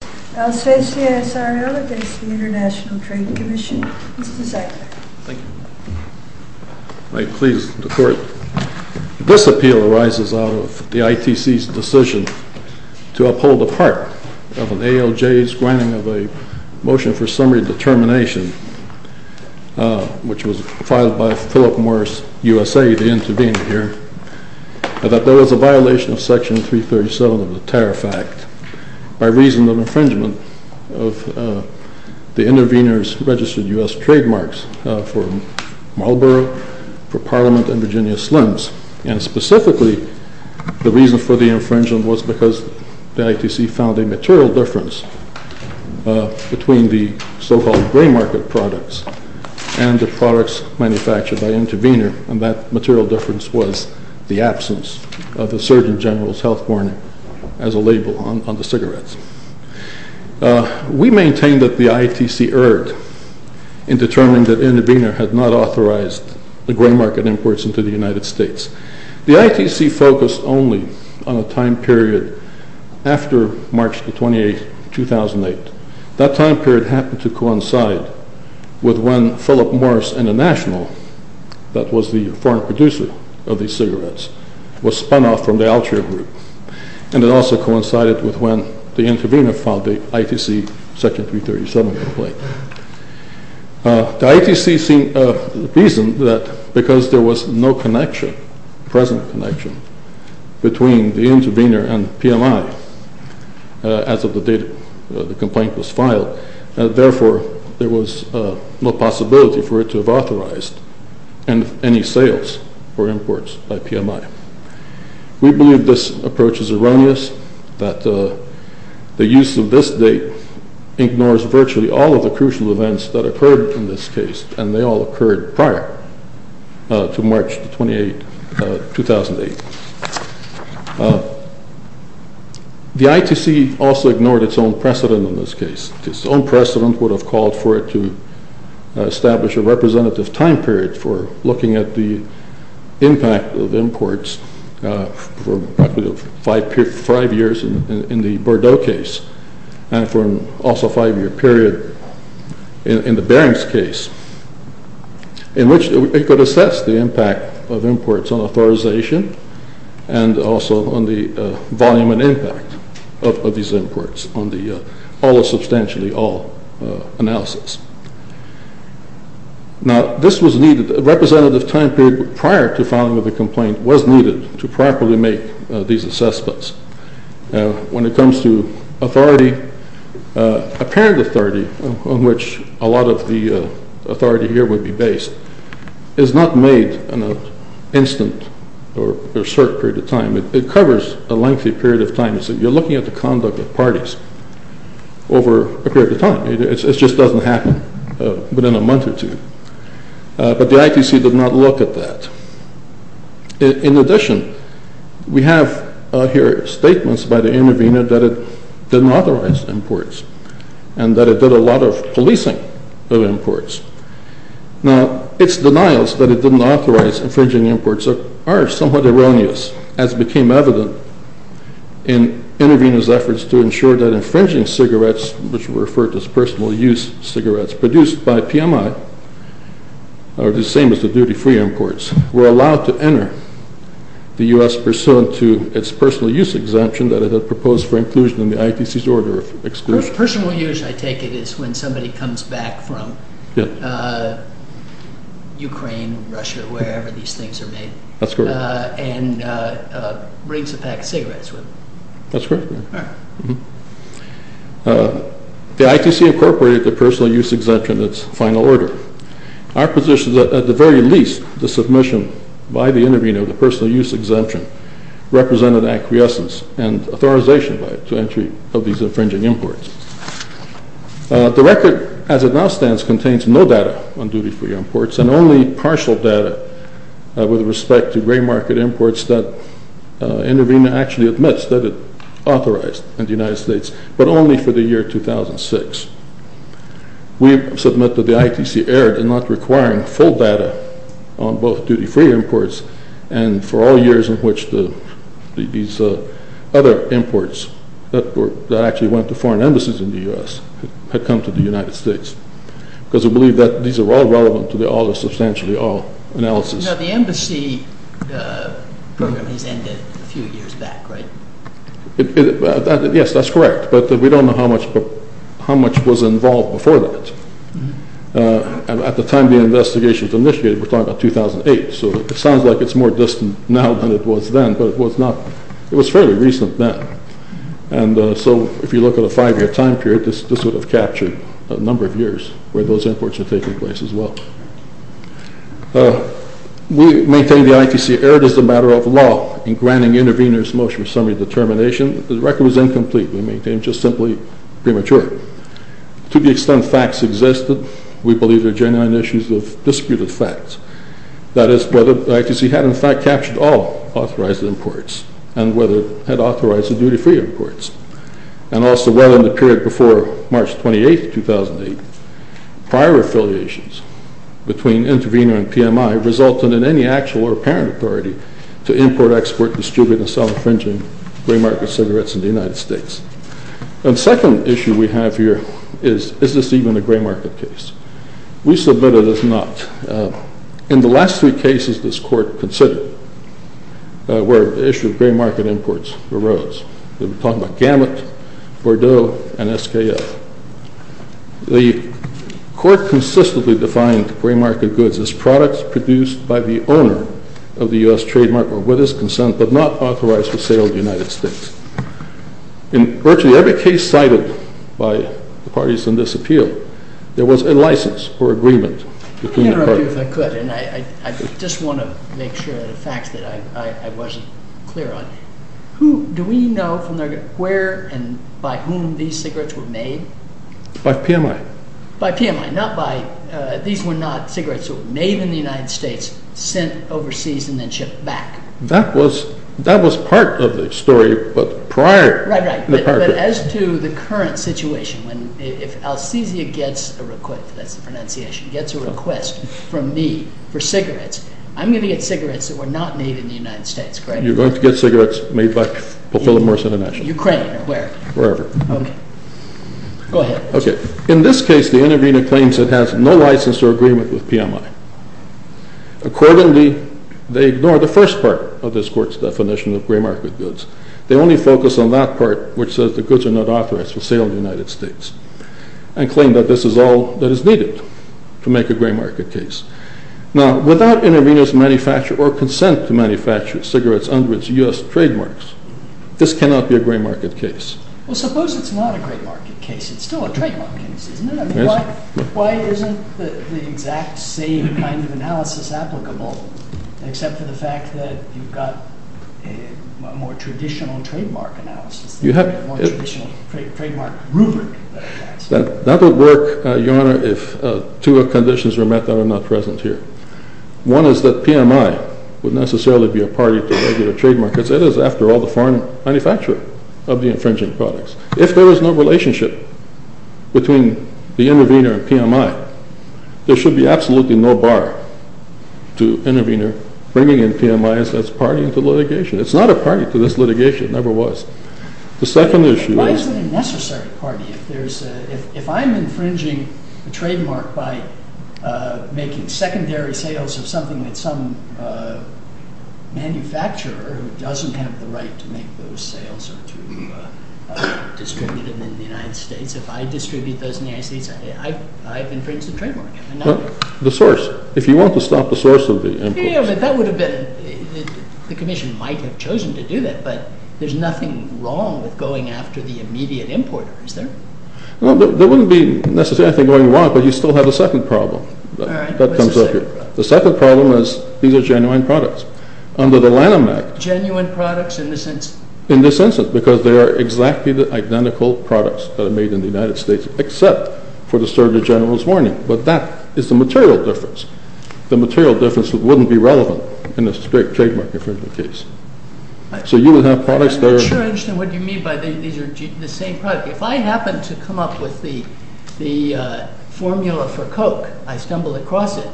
This appeal arises out of the ITC's decision to uphold the part of an ALJ's granting of a motion for summary determination, which was filed by Philip Morris USA, the intervener here, that there was a violation of Section 337 of the Tariff Act by reason of an unauthorized person. It was an infringement of the intervener's registered U.S. trademarks for Marlboro, for Parliament, and Virginia Slims. And specifically, the reason for the infringement was because the ITC found a material difference between the so-called gray market products and the products manufactured by the intervener. And that material difference was the absence of the Surgeon General's health warning as a label on the cigarettes. We maintain that the ITC erred in determining that the intervener had not authorized the gray market imports into the United States. The ITC focused only on a time period after March 28, 2008. That time period happened to coincide with when Philip Morris International, that was the foreign producer of these cigarettes, was spun off from the Altria Group. And it also coincided with when the intervener filed the ITC Section 337 complaint. The ITC reasoned that because there was no connection, present connection, between the intervener and PMI as of the date the complaint was filed, therefore there was no possibility for it to have authorized any sales or imports by PMI. We believe this approach is erroneous, that the use of this date ignores virtually all of the crucial events that occurred in this case, and they all occurred prior to March 28, 2008. The ITC also ignored its own precedent in this case. Its own precedent would have called for it to establish a representative time period for looking at the impact of imports for five years in the Bordeaux case, and for also a five-year period in the Berings case, in which it could assess the impact of imports on authorization, and also on the volume and impact of these imports on the all or substantially all analysis. Now, this was needed, a representative time period prior to filing of the complaint was needed to properly make these assessments. Now, when it comes to authority, apparent authority on which a lot of the authority here would be based is not made in an instant or a short period of time. It covers a lengthy period of time. You're looking at the conduct of parties over a period of time. It just doesn't happen within a month or two. But the ITC did not look at that. In addition, we have here statements by the intervener that it didn't authorize imports, and that it did a lot of policing of imports. Now, its denials that it didn't authorize infringing imports are somewhat erroneous, as became evident in intervener's efforts to ensure that infringing cigarettes, which were referred to as personal use cigarettes produced by PMI, or the same as the duty-free imports, were allowed to enter the U.S. pursuant to its personal use exemption that it had proposed for inclusion in the ITC's order of exclusion. Personal use, I take it, is when somebody comes back from Ukraine, Russia, wherever these things are made, and brings a pack of cigarettes with them. That's correct. The ITC incorporated the personal use exemption in its final order. Our position is that, at the very least, the submission by the intervener of the personal use exemption represented acquiescence and authorization to entry of these infringing imports. The record, as it now stands, contains no data on duty-free imports and only partial data with respect to gray market imports that intervener actually admits that it authorized in the United States, but only for the year 2006. We submit that the ITC erred in not requiring full data on both duty-free imports and for all years in which these other imports that actually went to foreign embassies in the U.S. had come to the United States, because we believe that these are all relevant to the All or Substantially All analysis. Now, the embassy program has ended a few years back, right? Yes, that's correct, but we don't know how much was involved before that. At the time the investigation was initiated, we're talking about 2008, so it sounds like it's more distant now than it was then, but it was fairly recent then. And so, if you look at a five-year time period, this would have captured a number of years where those imports were taking place as well. We maintain the ITC erred as a matter of law in granting interveners motion for summary determination. The record was incomplete. We maintain just simply premature. To the extent facts existed, we believe there are genuine issues of disputed facts. That is, whether the ITC had in fact captured all authorized imports, and whether it had authorized the duty-free imports, and also whether in the period before March 28, 2008, prior affiliations between intervener and PMI resulted in any actual or apparent authority to import, export, distribute, and sell infringing gray market cigarettes in the United States. The second issue we have here is, is this even a gray market case? We submit it as not. In the last three cases this Court considered, where the issue of gray market imports arose, we're talking about Gamut, Bordeaux, and SKF. The Court consistently defined gray market goods as products produced by the owner of the U.S. trademark or with his consent, but not authorized for sale in the United States. In virtually every case cited by the parties in this appeal, there was a license for agreement between the parties. Let me interrupt you if I could, and I just want to make sure of the facts that I wasn't clear on. Do we know where and by whom these cigarettes were made? By PMI. By PMI, not by, these were not cigarettes that were made in the United States, sent overseas, and then shipped back. That was part of the story, but prior... Right, right. But as to the current situation, if Alcizia gets a request, that's the pronunciation, gets a request from me for cigarettes, I'm going to get cigarettes that were not made in the United States, correct? You're going to get cigarettes made by Philip Morris International. Ukraine, or where? Wherever. Okay. Go ahead. Okay. In this case, the intervener claims it has no license or agreement with PMI. Accordingly, they ignore the first part of this Court's definition of gray market goods. They only focus on that part which says the goods are not authorized for sale in the United States, and claim that this is all that is needed to make a gray market case. Now, without intervener's manufacture or consent to manufacture cigarettes under its U.S. trademarks, this cannot be a gray market case. Well, suppose it's not a gray market case. It's still a trademark case, isn't it? Why isn't the exact same kind of analysis applicable, except for the fact that you've got a more traditional trademark analysis, a more traditional trademark rubric? That would work, Your Honor, if two conditions were met that are not present here. One is that PMI would necessarily be a party to regular trademark, because it is, after all, the foreign manufacturer of the infringing products. If there is no relationship between the intervener and PMI, there should be absolutely no bar to intervener bringing in PMI as its party to litigation. It's not a party to this litigation. It never was. The second issue is... Why is it a necessary party? If I'm infringing a trademark by making secondary sales of something that some manufacturer who doesn't have the right to make those sales or to distribute them in the United States, if I distribute those in the United States, I've infringed the trademark. The source. If you want to stop the source of the imports... That would have been... The Commission might have chosen to do that, but there's nothing wrong with going after the immediate importer, is there? There wouldn't be necessarily anything going wrong, but you still have a second problem. All right. What's the second problem? The second problem is these are genuine products. Under the Lanham Act... Genuine products in this instance? Because they are exactly the identical products that are made in the United States, except for the Surrogate General's warning. But that is the material difference. The material difference wouldn't be relevant in this trademark infringement case. So you would have products that are... I'm not sure I understand what you mean by these are the same product. If I happen to come up with the formula for Coke, I stumble across it,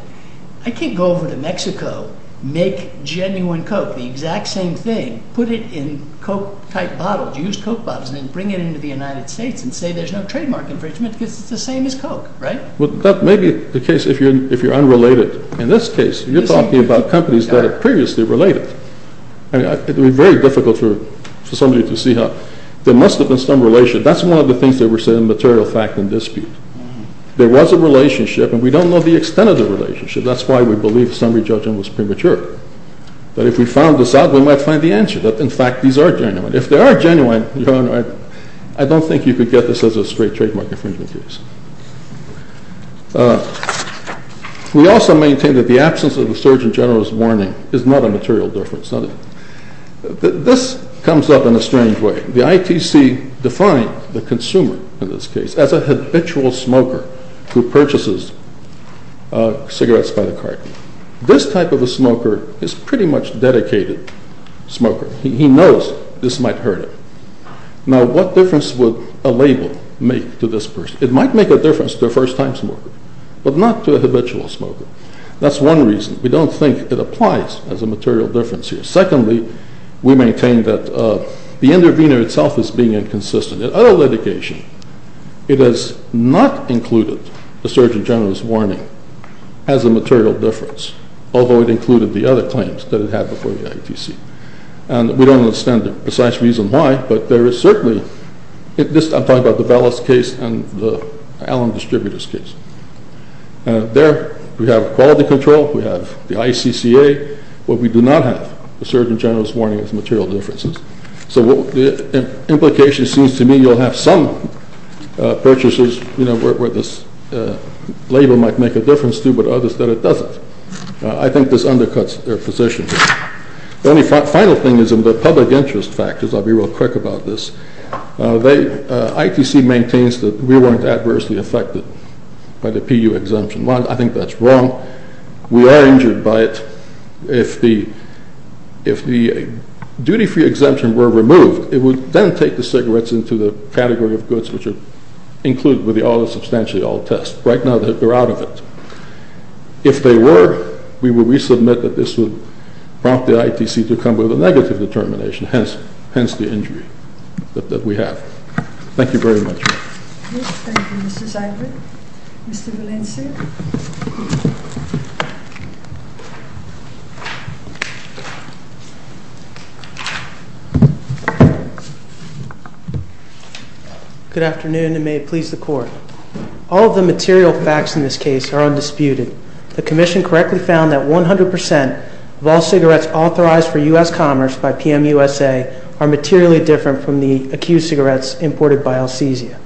I can't go over to Mexico, make genuine Coke, the exact same thing, put it in Coke-type bottles, use Coke bottles, and then bring it into the United States and say there's no trademark infringement because it's the same as Coke, right? Well, that may be the case if you're unrelated. In this case, you're talking about companies that are previously related. I mean, it would be very difficult for somebody to see how... There must have been some relationship. That's one of the things that we're saying, material fact and dispute. There was a relationship, and we don't know the extent of the relationship. That's why we believe summary judgment was premature. That if we found this out, we might find the answer, that in fact these are genuine. If they are genuine, I don't think you could get this as a straight trademark infringement case. We also maintain that the absence of the Surgeon General's warning is not a material difference. This comes up in a strange way. The ITC defined the consumer in this case as a habitual smoker who purchases cigarettes by the cart. This type of a smoker is pretty much a dedicated smoker. He knows this might hurt him. Now, what difference would a label make to this person? It might make a difference to a first-time smoker, but not to a habitual smoker. That's one reason. We don't think it applies as a material difference here. Secondly, we maintain that the intervener itself is being inconsistent. In other litigation, it has not included the Surgeon General's warning as a material difference, although it included the other claims that it had before the ITC. We don't understand the precise reason why, but there is certainly— I'm talking about the Vallis case and the Allen Distributors case. There, we have quality control, we have the ICCA, but we do not have the Surgeon General's warning as material differences. So the implication seems to me you'll have some purchases where this label might make a difference to, but others that it doesn't. I think this undercuts their position. The final thing is in the public interest factors. I'll be real quick about this. ITC maintains that we weren't adversely affected by the PU exemption. While I think that's wrong, we are injured by it. If the duty-free exemption were removed, it would then take the cigarettes into the category of goods, which are included with the all-or-substantially-all test. Right now, they're out of it. If they were, we would resubmit that this would prompt the ITC to come with a negative determination, hence the injury that we have. Thank you very much. Thank you, Mr. Seibert. Mr. Valencia? Good afternoon, and may it please the Court. All of the material facts in this case are undisputed. The Commission correctly found that 100% of all cigarettes authorized for U.S. commerce by PMUSA are materially different from the accused cigarettes imported by Alcesia.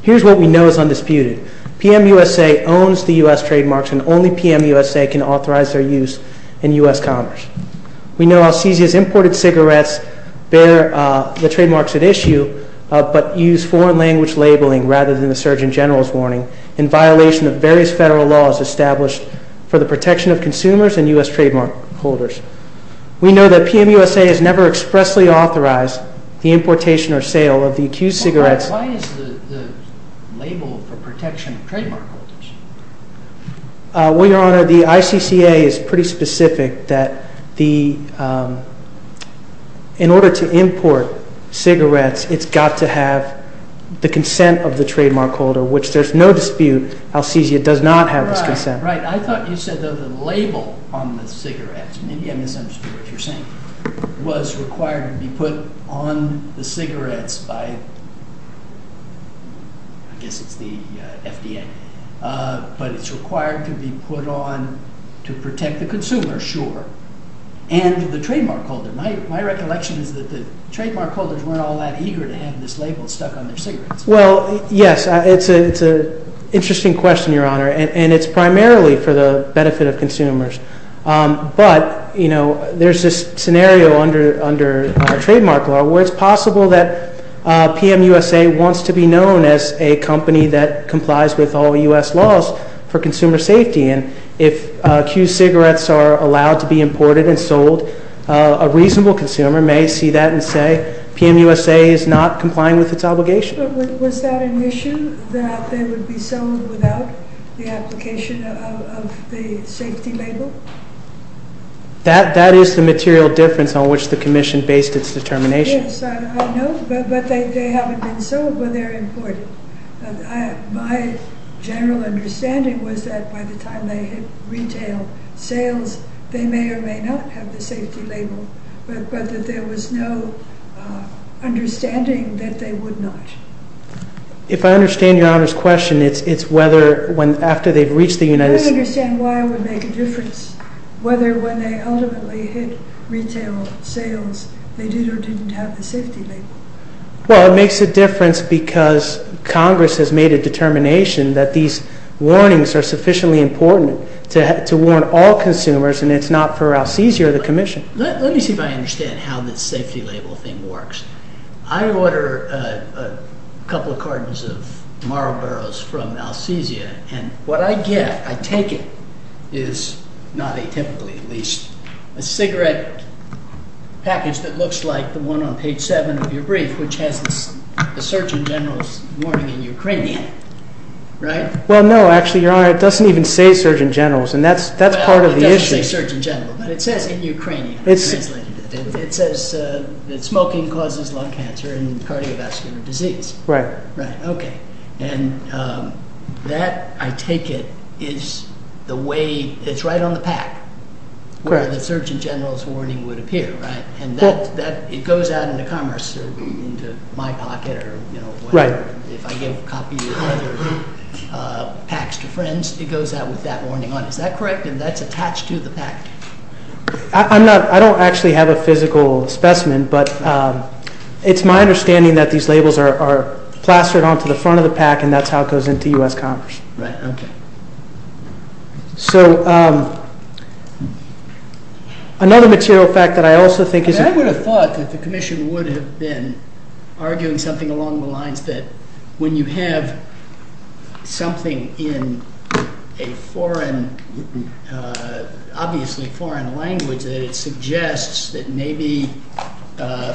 Here's what we know is undisputed. PMUSA owns the U.S. trademarks, and only PMUSA can authorize their use in U.S. commerce. We know Alcesia's imported cigarettes bear the trademarks at issue, but use foreign-language labeling rather than the Surgeon General's warning, in violation of various federal laws established for the protection of consumers and U.S. trademark holders. We know that PMUSA has never expressly authorized the importation or sale of the accused cigarettes. Why is the label for protection of trademark holders? Well, Your Honor, the ICCA is pretty specific that in order to import cigarettes, it's got to have the consent of the trademark holder, which there's no dispute, Alcesia does not have this consent. Right, right. I thought you said that the label on the cigarettes, maybe I misunderstood what you're saying, was required to be put on the cigarettes by, I guess it's the FDA, but it's required to be put on to protect the consumer, sure, and the trademark holder. My recollection is that the trademark holders weren't all that eager to have this label stuck on their cigarettes. Well, yes, it's an interesting question, Your Honor, and it's primarily for the benefit of consumers. But, you know, there's this scenario under our trademark law where it's possible that PMUSA wants to be known as a company that complies with all U.S. laws for consumer safety, and if accused cigarettes are allowed to be imported and sold, a reasonable consumer may see that and say, PMUSA is not complying with its obligation. Was that an issue, that they would be sold without the application of the safety label? That is the material difference on which the Commission based its determination. Yes, I know, but they haven't been sold, but they're imported. My general understanding was that by the time they hit retail sales, they may or may not have the safety label, but that there was no understanding that they would not. If I understand Your Honor's question, it's whether after they've reached the United States… I don't understand why it would make a difference whether when they ultimately hit retail sales, they did or didn't have the safety label. Well, it makes a difference because Congress has made a determination that these warnings are sufficiently important to warn all consumers, and it's not for Alcesia or the Commission. Let me see if I understand how this safety label thing works. I order a couple of cartons of Marlboros from Alcesia, and what I get, I take it, is not atypically at least a cigarette package that looks like the one on page 7 of your brief, which has the Surgeon General's warning in Ukrainian, right? Well, no, actually, Your Honor, it doesn't even say Surgeon General's, and that's part of the issue. Well, it doesn't say Surgeon General, but it says in Ukrainian. It says that smoking causes lung cancer and cardiovascular disease. Right. Right, okay, and that, I take it, is the way, it's right on the pack, where the Surgeon General's warning would appear, right? And that, it goes out into Commerce, into my pocket, or, you know, if I give copies of other packs to friends, it goes out with that warning on. Is that correct? And that's attached to the pack? I'm not, I don't actually have a physical specimen, but it's my understanding that these labels are plastered onto the front of the pack, and that's how it goes into U.S. Commerce. Right, okay. So, another material fact that I also think is... I would have thought that the Commission would have been arguing something along the lines that when you have something in a foreign, obviously foreign language, that it suggests that maybe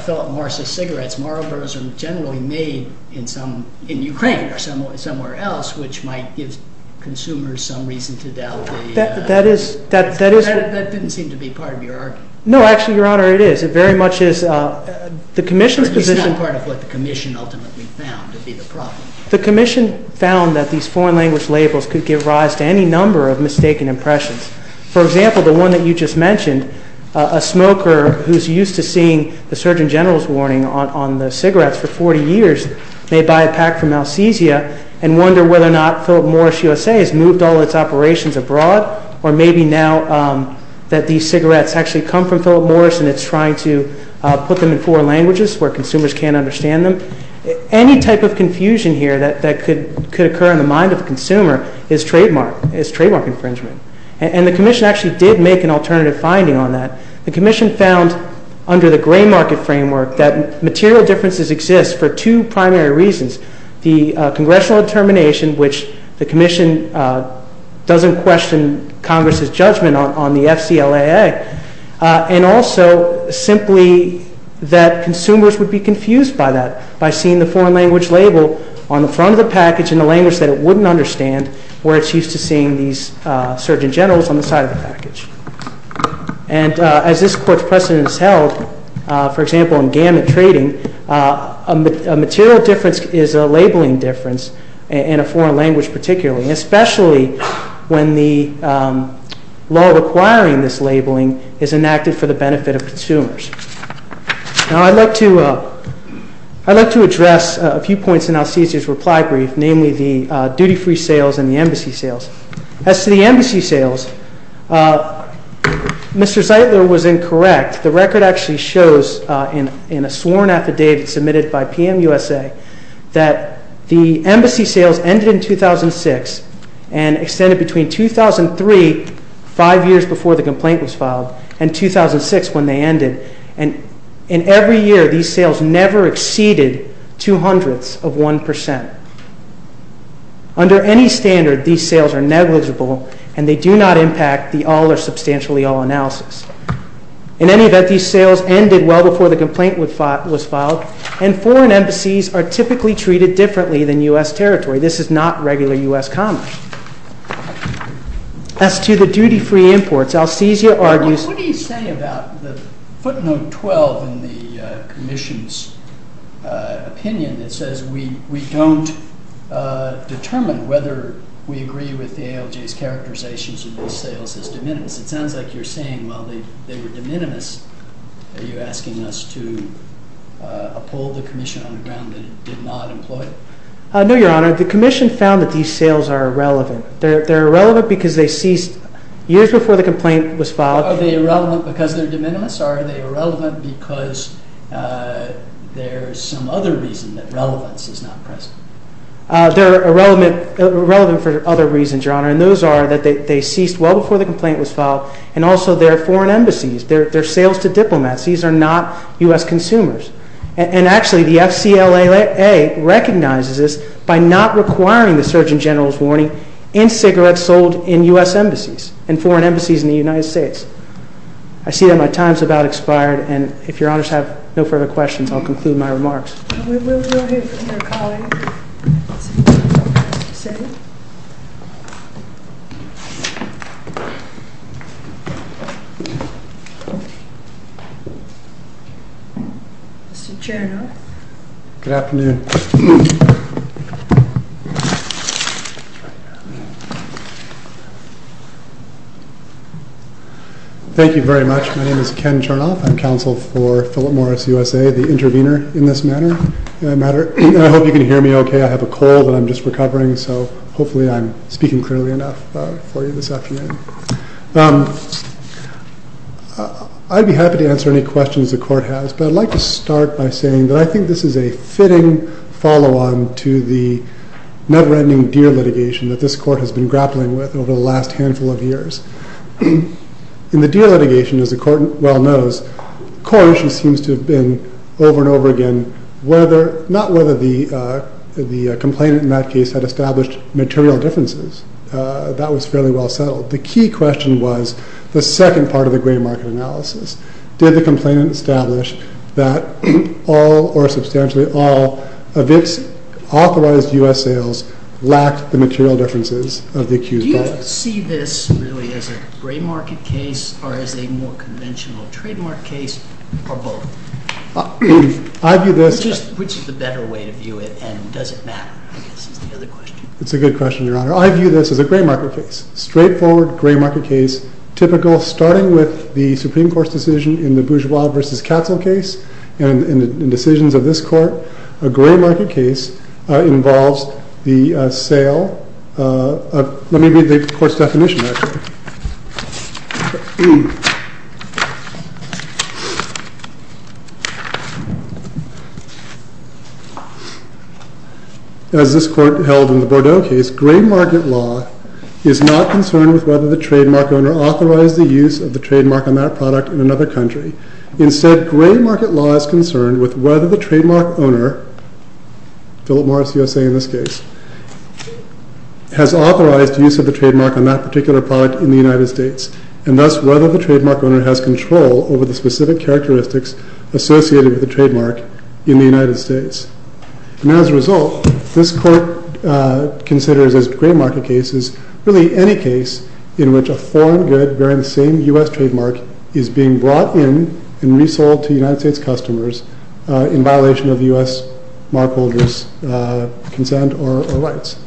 Philip Morris' cigarettes, Marlboro's are generally made in some, in Ukraine or somewhere else, which might give consumers some reason to doubt the... That is, that is... That didn't seem to be part of your argument. No, actually, Your Honor, it is. It very much is the Commission's position... But it's not part of what the Commission ultimately found to be the problem. The Commission found that these foreign language labels could give rise to any number of mistaken impressions. For example, the one that you just mentioned, a smoker who's used to seeing the Surgeon General's warning on the cigarettes for 40 years may buy a pack from Alcesia and wonder whether or not Philip Morris USA has moved all its operations abroad, or maybe now that these cigarettes actually come from Philip Morris and it's trying to put them in foreign languages where consumers can't understand them. Any type of confusion here that could occur in the mind of a consumer is trademark infringement. And the Commission actually did make an alternative finding on that. The Commission found under the gray market framework that material differences exist for two primary reasons. The Congressional determination, which the Commission doesn't question Congress's judgment on the FCLAA, and also simply that consumers would be confused by that, by seeing the foreign language label on the front of the package in a language that it wouldn't understand where it's used to seeing these Surgeon Generals on the side of the package. And as this Court's precedent has held, for example, in gamut trading, a material difference is a labeling difference in a foreign language particularly, especially when the law requiring this labeling is enacted for the benefit of consumers. Now I'd like to address a few points in Alcesia's reply brief, namely the duty-free sales and the embassy sales. As to the embassy sales, Mr. Zeitler was incorrect. The record actually shows in a sworn affidavit submitted by PMUSA that the embassy sales ended in 2006 and extended between 2003, five years before the complaint was filed, and 2006 when they ended. And in every year, these sales never exceeded two hundredths of one percent. Under any standard, these sales are negligible, and they do not impact the all or substantially all analysis. In any event, these sales ended well before the complaint was filed, and foreign embassies are typically treated differently than U.S. territory. This is not regular U.S. commerce. As to the duty-free imports, Alcesia argues... determine whether we agree with the ALJ's characterizations of these sales as de minimis. It sounds like you're saying, well, they were de minimis. Are you asking us to uphold the commission on the ground that it did not employ them? No, Your Honor. The commission found that these sales are irrelevant. They're irrelevant because they ceased years before the complaint was filed. Are they irrelevant because they're de minimis? Are they irrelevant because there's some other reason that relevance is not present? They're irrelevant for other reasons, Your Honor, and those are that they ceased well before the complaint was filed, and also they're foreign embassies. They're sales to diplomats. These are not U.S. consumers. And actually, the FCLAA recognizes this by not requiring the Surgeon General's warning in cigarettes sold in U.S. embassies and foreign embassies in the United States. I see that my time's about expired, and if Your Honors have no further questions, I'll conclude my remarks. We will go ahead with your calling. Mr. Chernow. Good afternoon. Thank you very much. My name is Ken Chernow. I'm counsel for Philip Morris USA, the intervener in this matter, and I hope you can hear me okay. I have a cold, and I'm just recovering, so hopefully I'm speaking clearly enough for you this afternoon. I'd be happy to answer any questions the Court has, but I'd like to start by saying that I think this is a fitting follow-on to the never-ending deer litigation that this Court has been grappling with over the last handful of years. In the deer litigation, as the Court well knows, the core issue seems to have been over and over again not whether the complainant in that case had established material differences. That was fairly well settled. The key question was the second part of the gray market analysis. Did the complainant establish that all or substantially all of its authorized U.S. sales lacked the material differences of the accused audience? Do you see this really as a gray market case or as a more conventional trademark case or both? Which is the better way to view it, and does it matter? I guess is the other question. It's a good question, Your Honor. I view this as a gray market case, straightforward gray market case, typical starting with the Supreme Court's decision in the Bourgeois v. Katzel case and the decisions of this Court. A gray market case involves the sale of Let me read the Court's definition, actually. As this Court held in the Bordeaux case, gray market law is not concerned with whether the trademark owner authorized the use of the trademark on that product in another country. Instead, gray market law is concerned with whether the trademark owner, Philip Morris USA in this case, has authorized use of the trademark on that particular product in the United States and thus whether the trademark owner has control over the specific characteristics associated with the trademark in the United States. And as a result, this Court considers as gray market cases really any case in which a foreign good bearing the same U.S. trademark is being brought in and resold to United States customers in violation of U.S. markholders' consent or rights.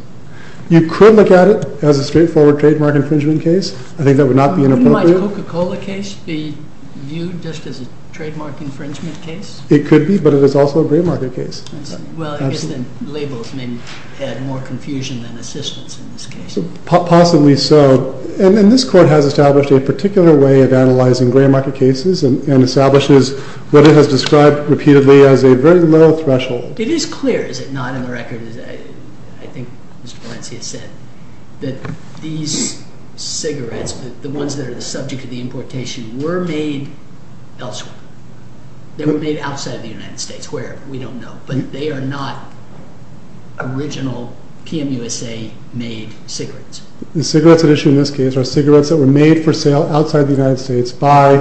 You could look at it as a straightforward trademark infringement case. I think that would not be inappropriate. Wouldn't my Coca-Cola case be viewed just as a trademark infringement case? It could be, but it is also a gray market case. Well, I guess then labels may add more confusion than assistance in this case. Possibly so. And this Court has established a particular way of analyzing gray market cases and establishes what it has described repeatedly as a very low threshold. It is clear, is it not, in the record, as I think Mr. Valencia said, that these cigarettes, the ones that are the subject of the importation, were made elsewhere. They were made outside of the United States where we don't know, but they are not original PMUSA-made cigarettes. The cigarettes at issue in this case are cigarettes that were made for sale outside the United States by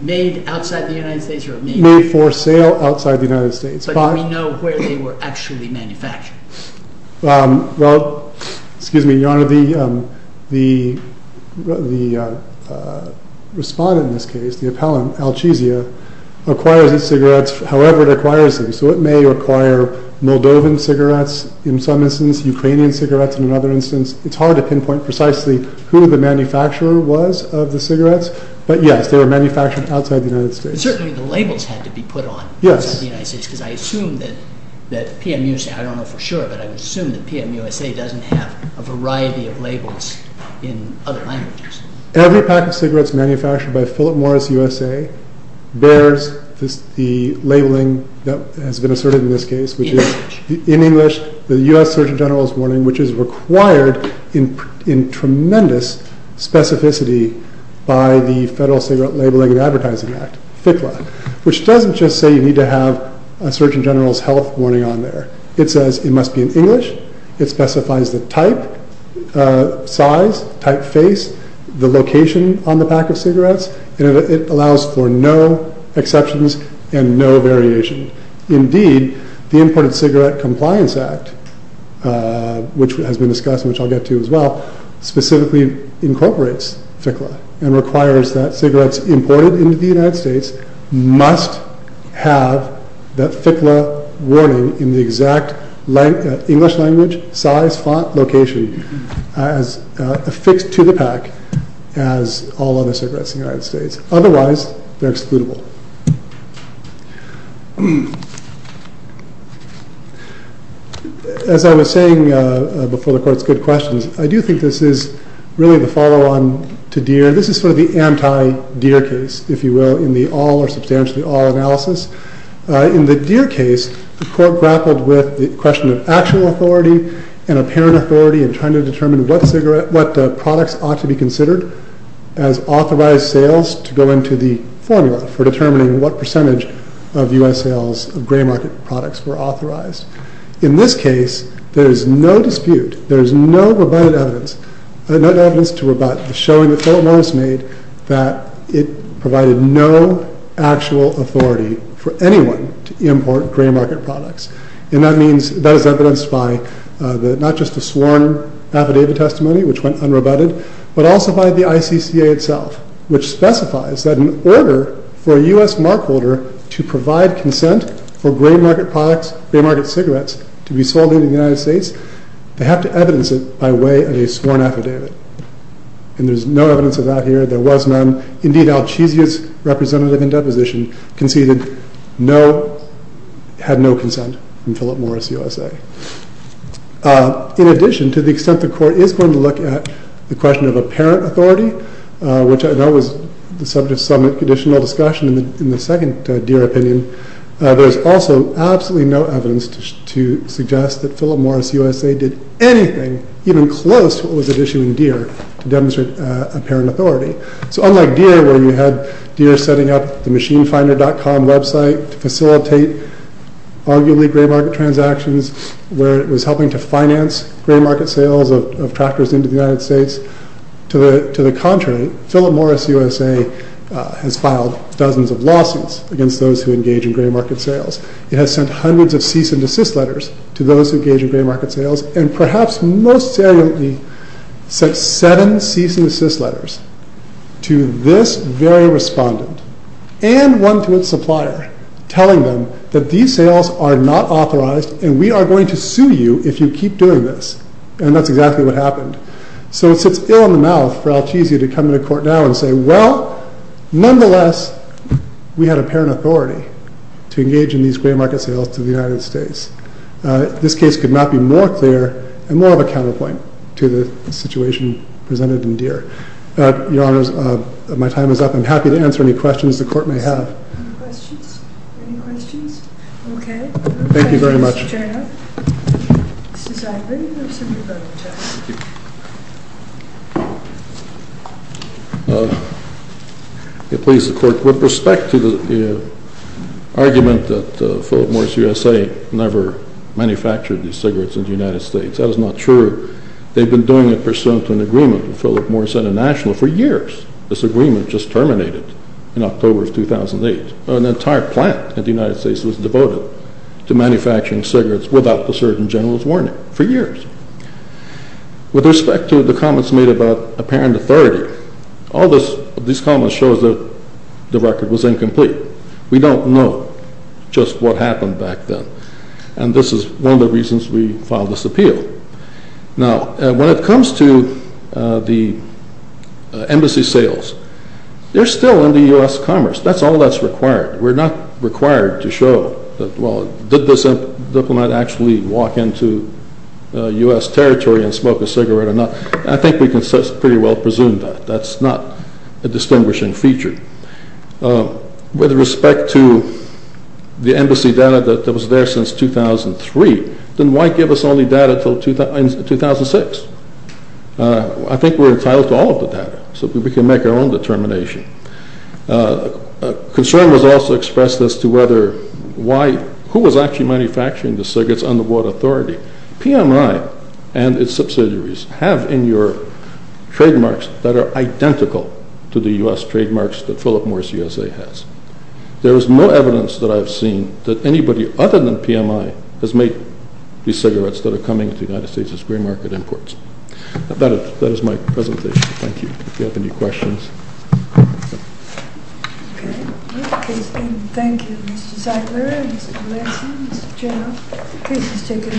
Made outside the United States or made for sale? Made for sale outside the United States. But do we know where they were actually manufactured? Well, excuse me, Your Honor, the respondent in this case, the appellant, Alchezia, acquires its cigarettes however it acquires them. So it may acquire Moldovan cigarettes in some instance, Ukrainian cigarettes in another instance. It is hard to pinpoint precisely who the manufacturer was of the cigarettes, but yes, they were manufactured outside the United States. Certainly the labels had to be put on outside the United States because I assume that PMUSA, I don't know for sure, but I would assume that PMUSA doesn't have a variety of labels in other languages. Every pack of cigarettes manufactured by Philip Morris USA bears the labeling that has been asserted in this case. In English. In English, the U.S. Surgeon General's warning, which is required in tremendous specificity by the Federal Cigarette Labeling and Advertising Act, FCLA, which doesn't just say you need to have a Surgeon General's health warning on there. It says it must be in English. It specifies the type, size, typeface, the location on the pack of cigarettes, and it allows for no exceptions and no variation. Indeed, the Imported Cigarette Compliance Act, which has been discussed and which I'll get to as well, specifically incorporates FCLA and requires that cigarettes imported into the United States must have that FCLA warning in the exact English language, size, font, location affixed to the pack as all other cigarettes in the United States. Otherwise, they're excludable. As I was saying before the court's good questions, I do think this is really the follow-on to Deere. This is sort of the anti-Deere case, if you will, in the all or substantially all analysis. In the Deere case, the court grappled with the question of actual authority and apparent authority in trying to determine what products ought to be considered as authorized sales to go into the formula for determining what percentage of U.S. sales of gray market products were authorized. In this case, there is no dispute, there is no rebutted evidence, no evidence to rebut the showing that Philip Morris made that it provided no actual authority for anyone to import gray market products. And that is evidenced by not just the sworn affidavit testimony, which went unrebutted, but also by the ICCA itself, which specifies that in order for a U.S. markholder to provide consent for gray market products, gray market cigarettes, to be sold in the United States, they have to evidence it by way of a sworn affidavit. And there's no evidence of that here. There was none. Indeed, Alchezius, representative in deposition, conceded no, had no consent in Philip Morris USA. In addition, to the extent the court is going to look at the question of apparent authority, which I know was the subject of some additional discussion in the second Deere opinion, there's also absolutely no evidence to suggest that Philip Morris USA did anything even close to what was at issue in Deere to demonstrate apparent authority. So unlike Deere, where you had Deere setting up the machinefinder.com website to facilitate arguably gray market transactions, where it was helping to finance gray market sales of tractors into the United States, to the contrary, Philip Morris USA has filed dozens of lawsuits against those who engage in gray market sales. It has sent hundreds of cease and desist letters to those who engage in gray market sales and perhaps most saliently sent seven cease and desist letters to this very respondent and one to its supplier telling them that these sales are not authorized and we are going to sue you if you keep doing this. And that's exactly what happened. So it sits ill in the mouth for Alchezius to come into court now and say, well, nonetheless, we had apparent authority to engage in these gray market sales to the United States. This case could not be more clear and more of a counterpoint to the situation presented in Deere. Your Honor, my time is up. I'm happy to answer any questions the Court may have. Any questions? Any questions? Thank you very much. Thank you, Mr. Chernoff. Mr. Zagreb, you have some rebuttal time. Thank you. Please, the Court, with respect to the argument that Philip Morris USA never manufactured these cigarettes in the United States, that is not true. They've been doing it pursuant to an agreement with Philip Morris International for years. This agreement just terminated in October of 2008. An entire plant in the United States was devoted to manufacturing cigarettes without the Surgeon General's warning for years. With respect to the comments made about apparent authority, all these comments show that the record was incomplete. We don't know just what happened back then, and this is one of the reasons we filed this appeal. Now, when it comes to the embassy sales, they're still in the U.S. commerce. That's all that's required. We're not required to show that, well, did this diplomat actually walk into U.S. territory and smoke a cigarette or not? I think we can pretty well presume that. That's not a distinguishing feature. With respect to the embassy data that was there since 2003, then why give us only data until 2006? I think we're entitled to all of the data, so we can make our own determination. Concern was also expressed as to who was actually manufacturing the cigarettes and under what authority. PMI and its subsidiaries have in Europe trademarks that are identical to the U.S. trademarks that Philip Morris USA has. There is no evidence that I have seen that anybody other than PMI has made these cigarettes that are coming to the United States as free market imports. That is my presentation. Thank you. If you have any questions. Okay. Thank you, Mr. Zeigler, Mr. Lansing, Mr. General. Please just take it away.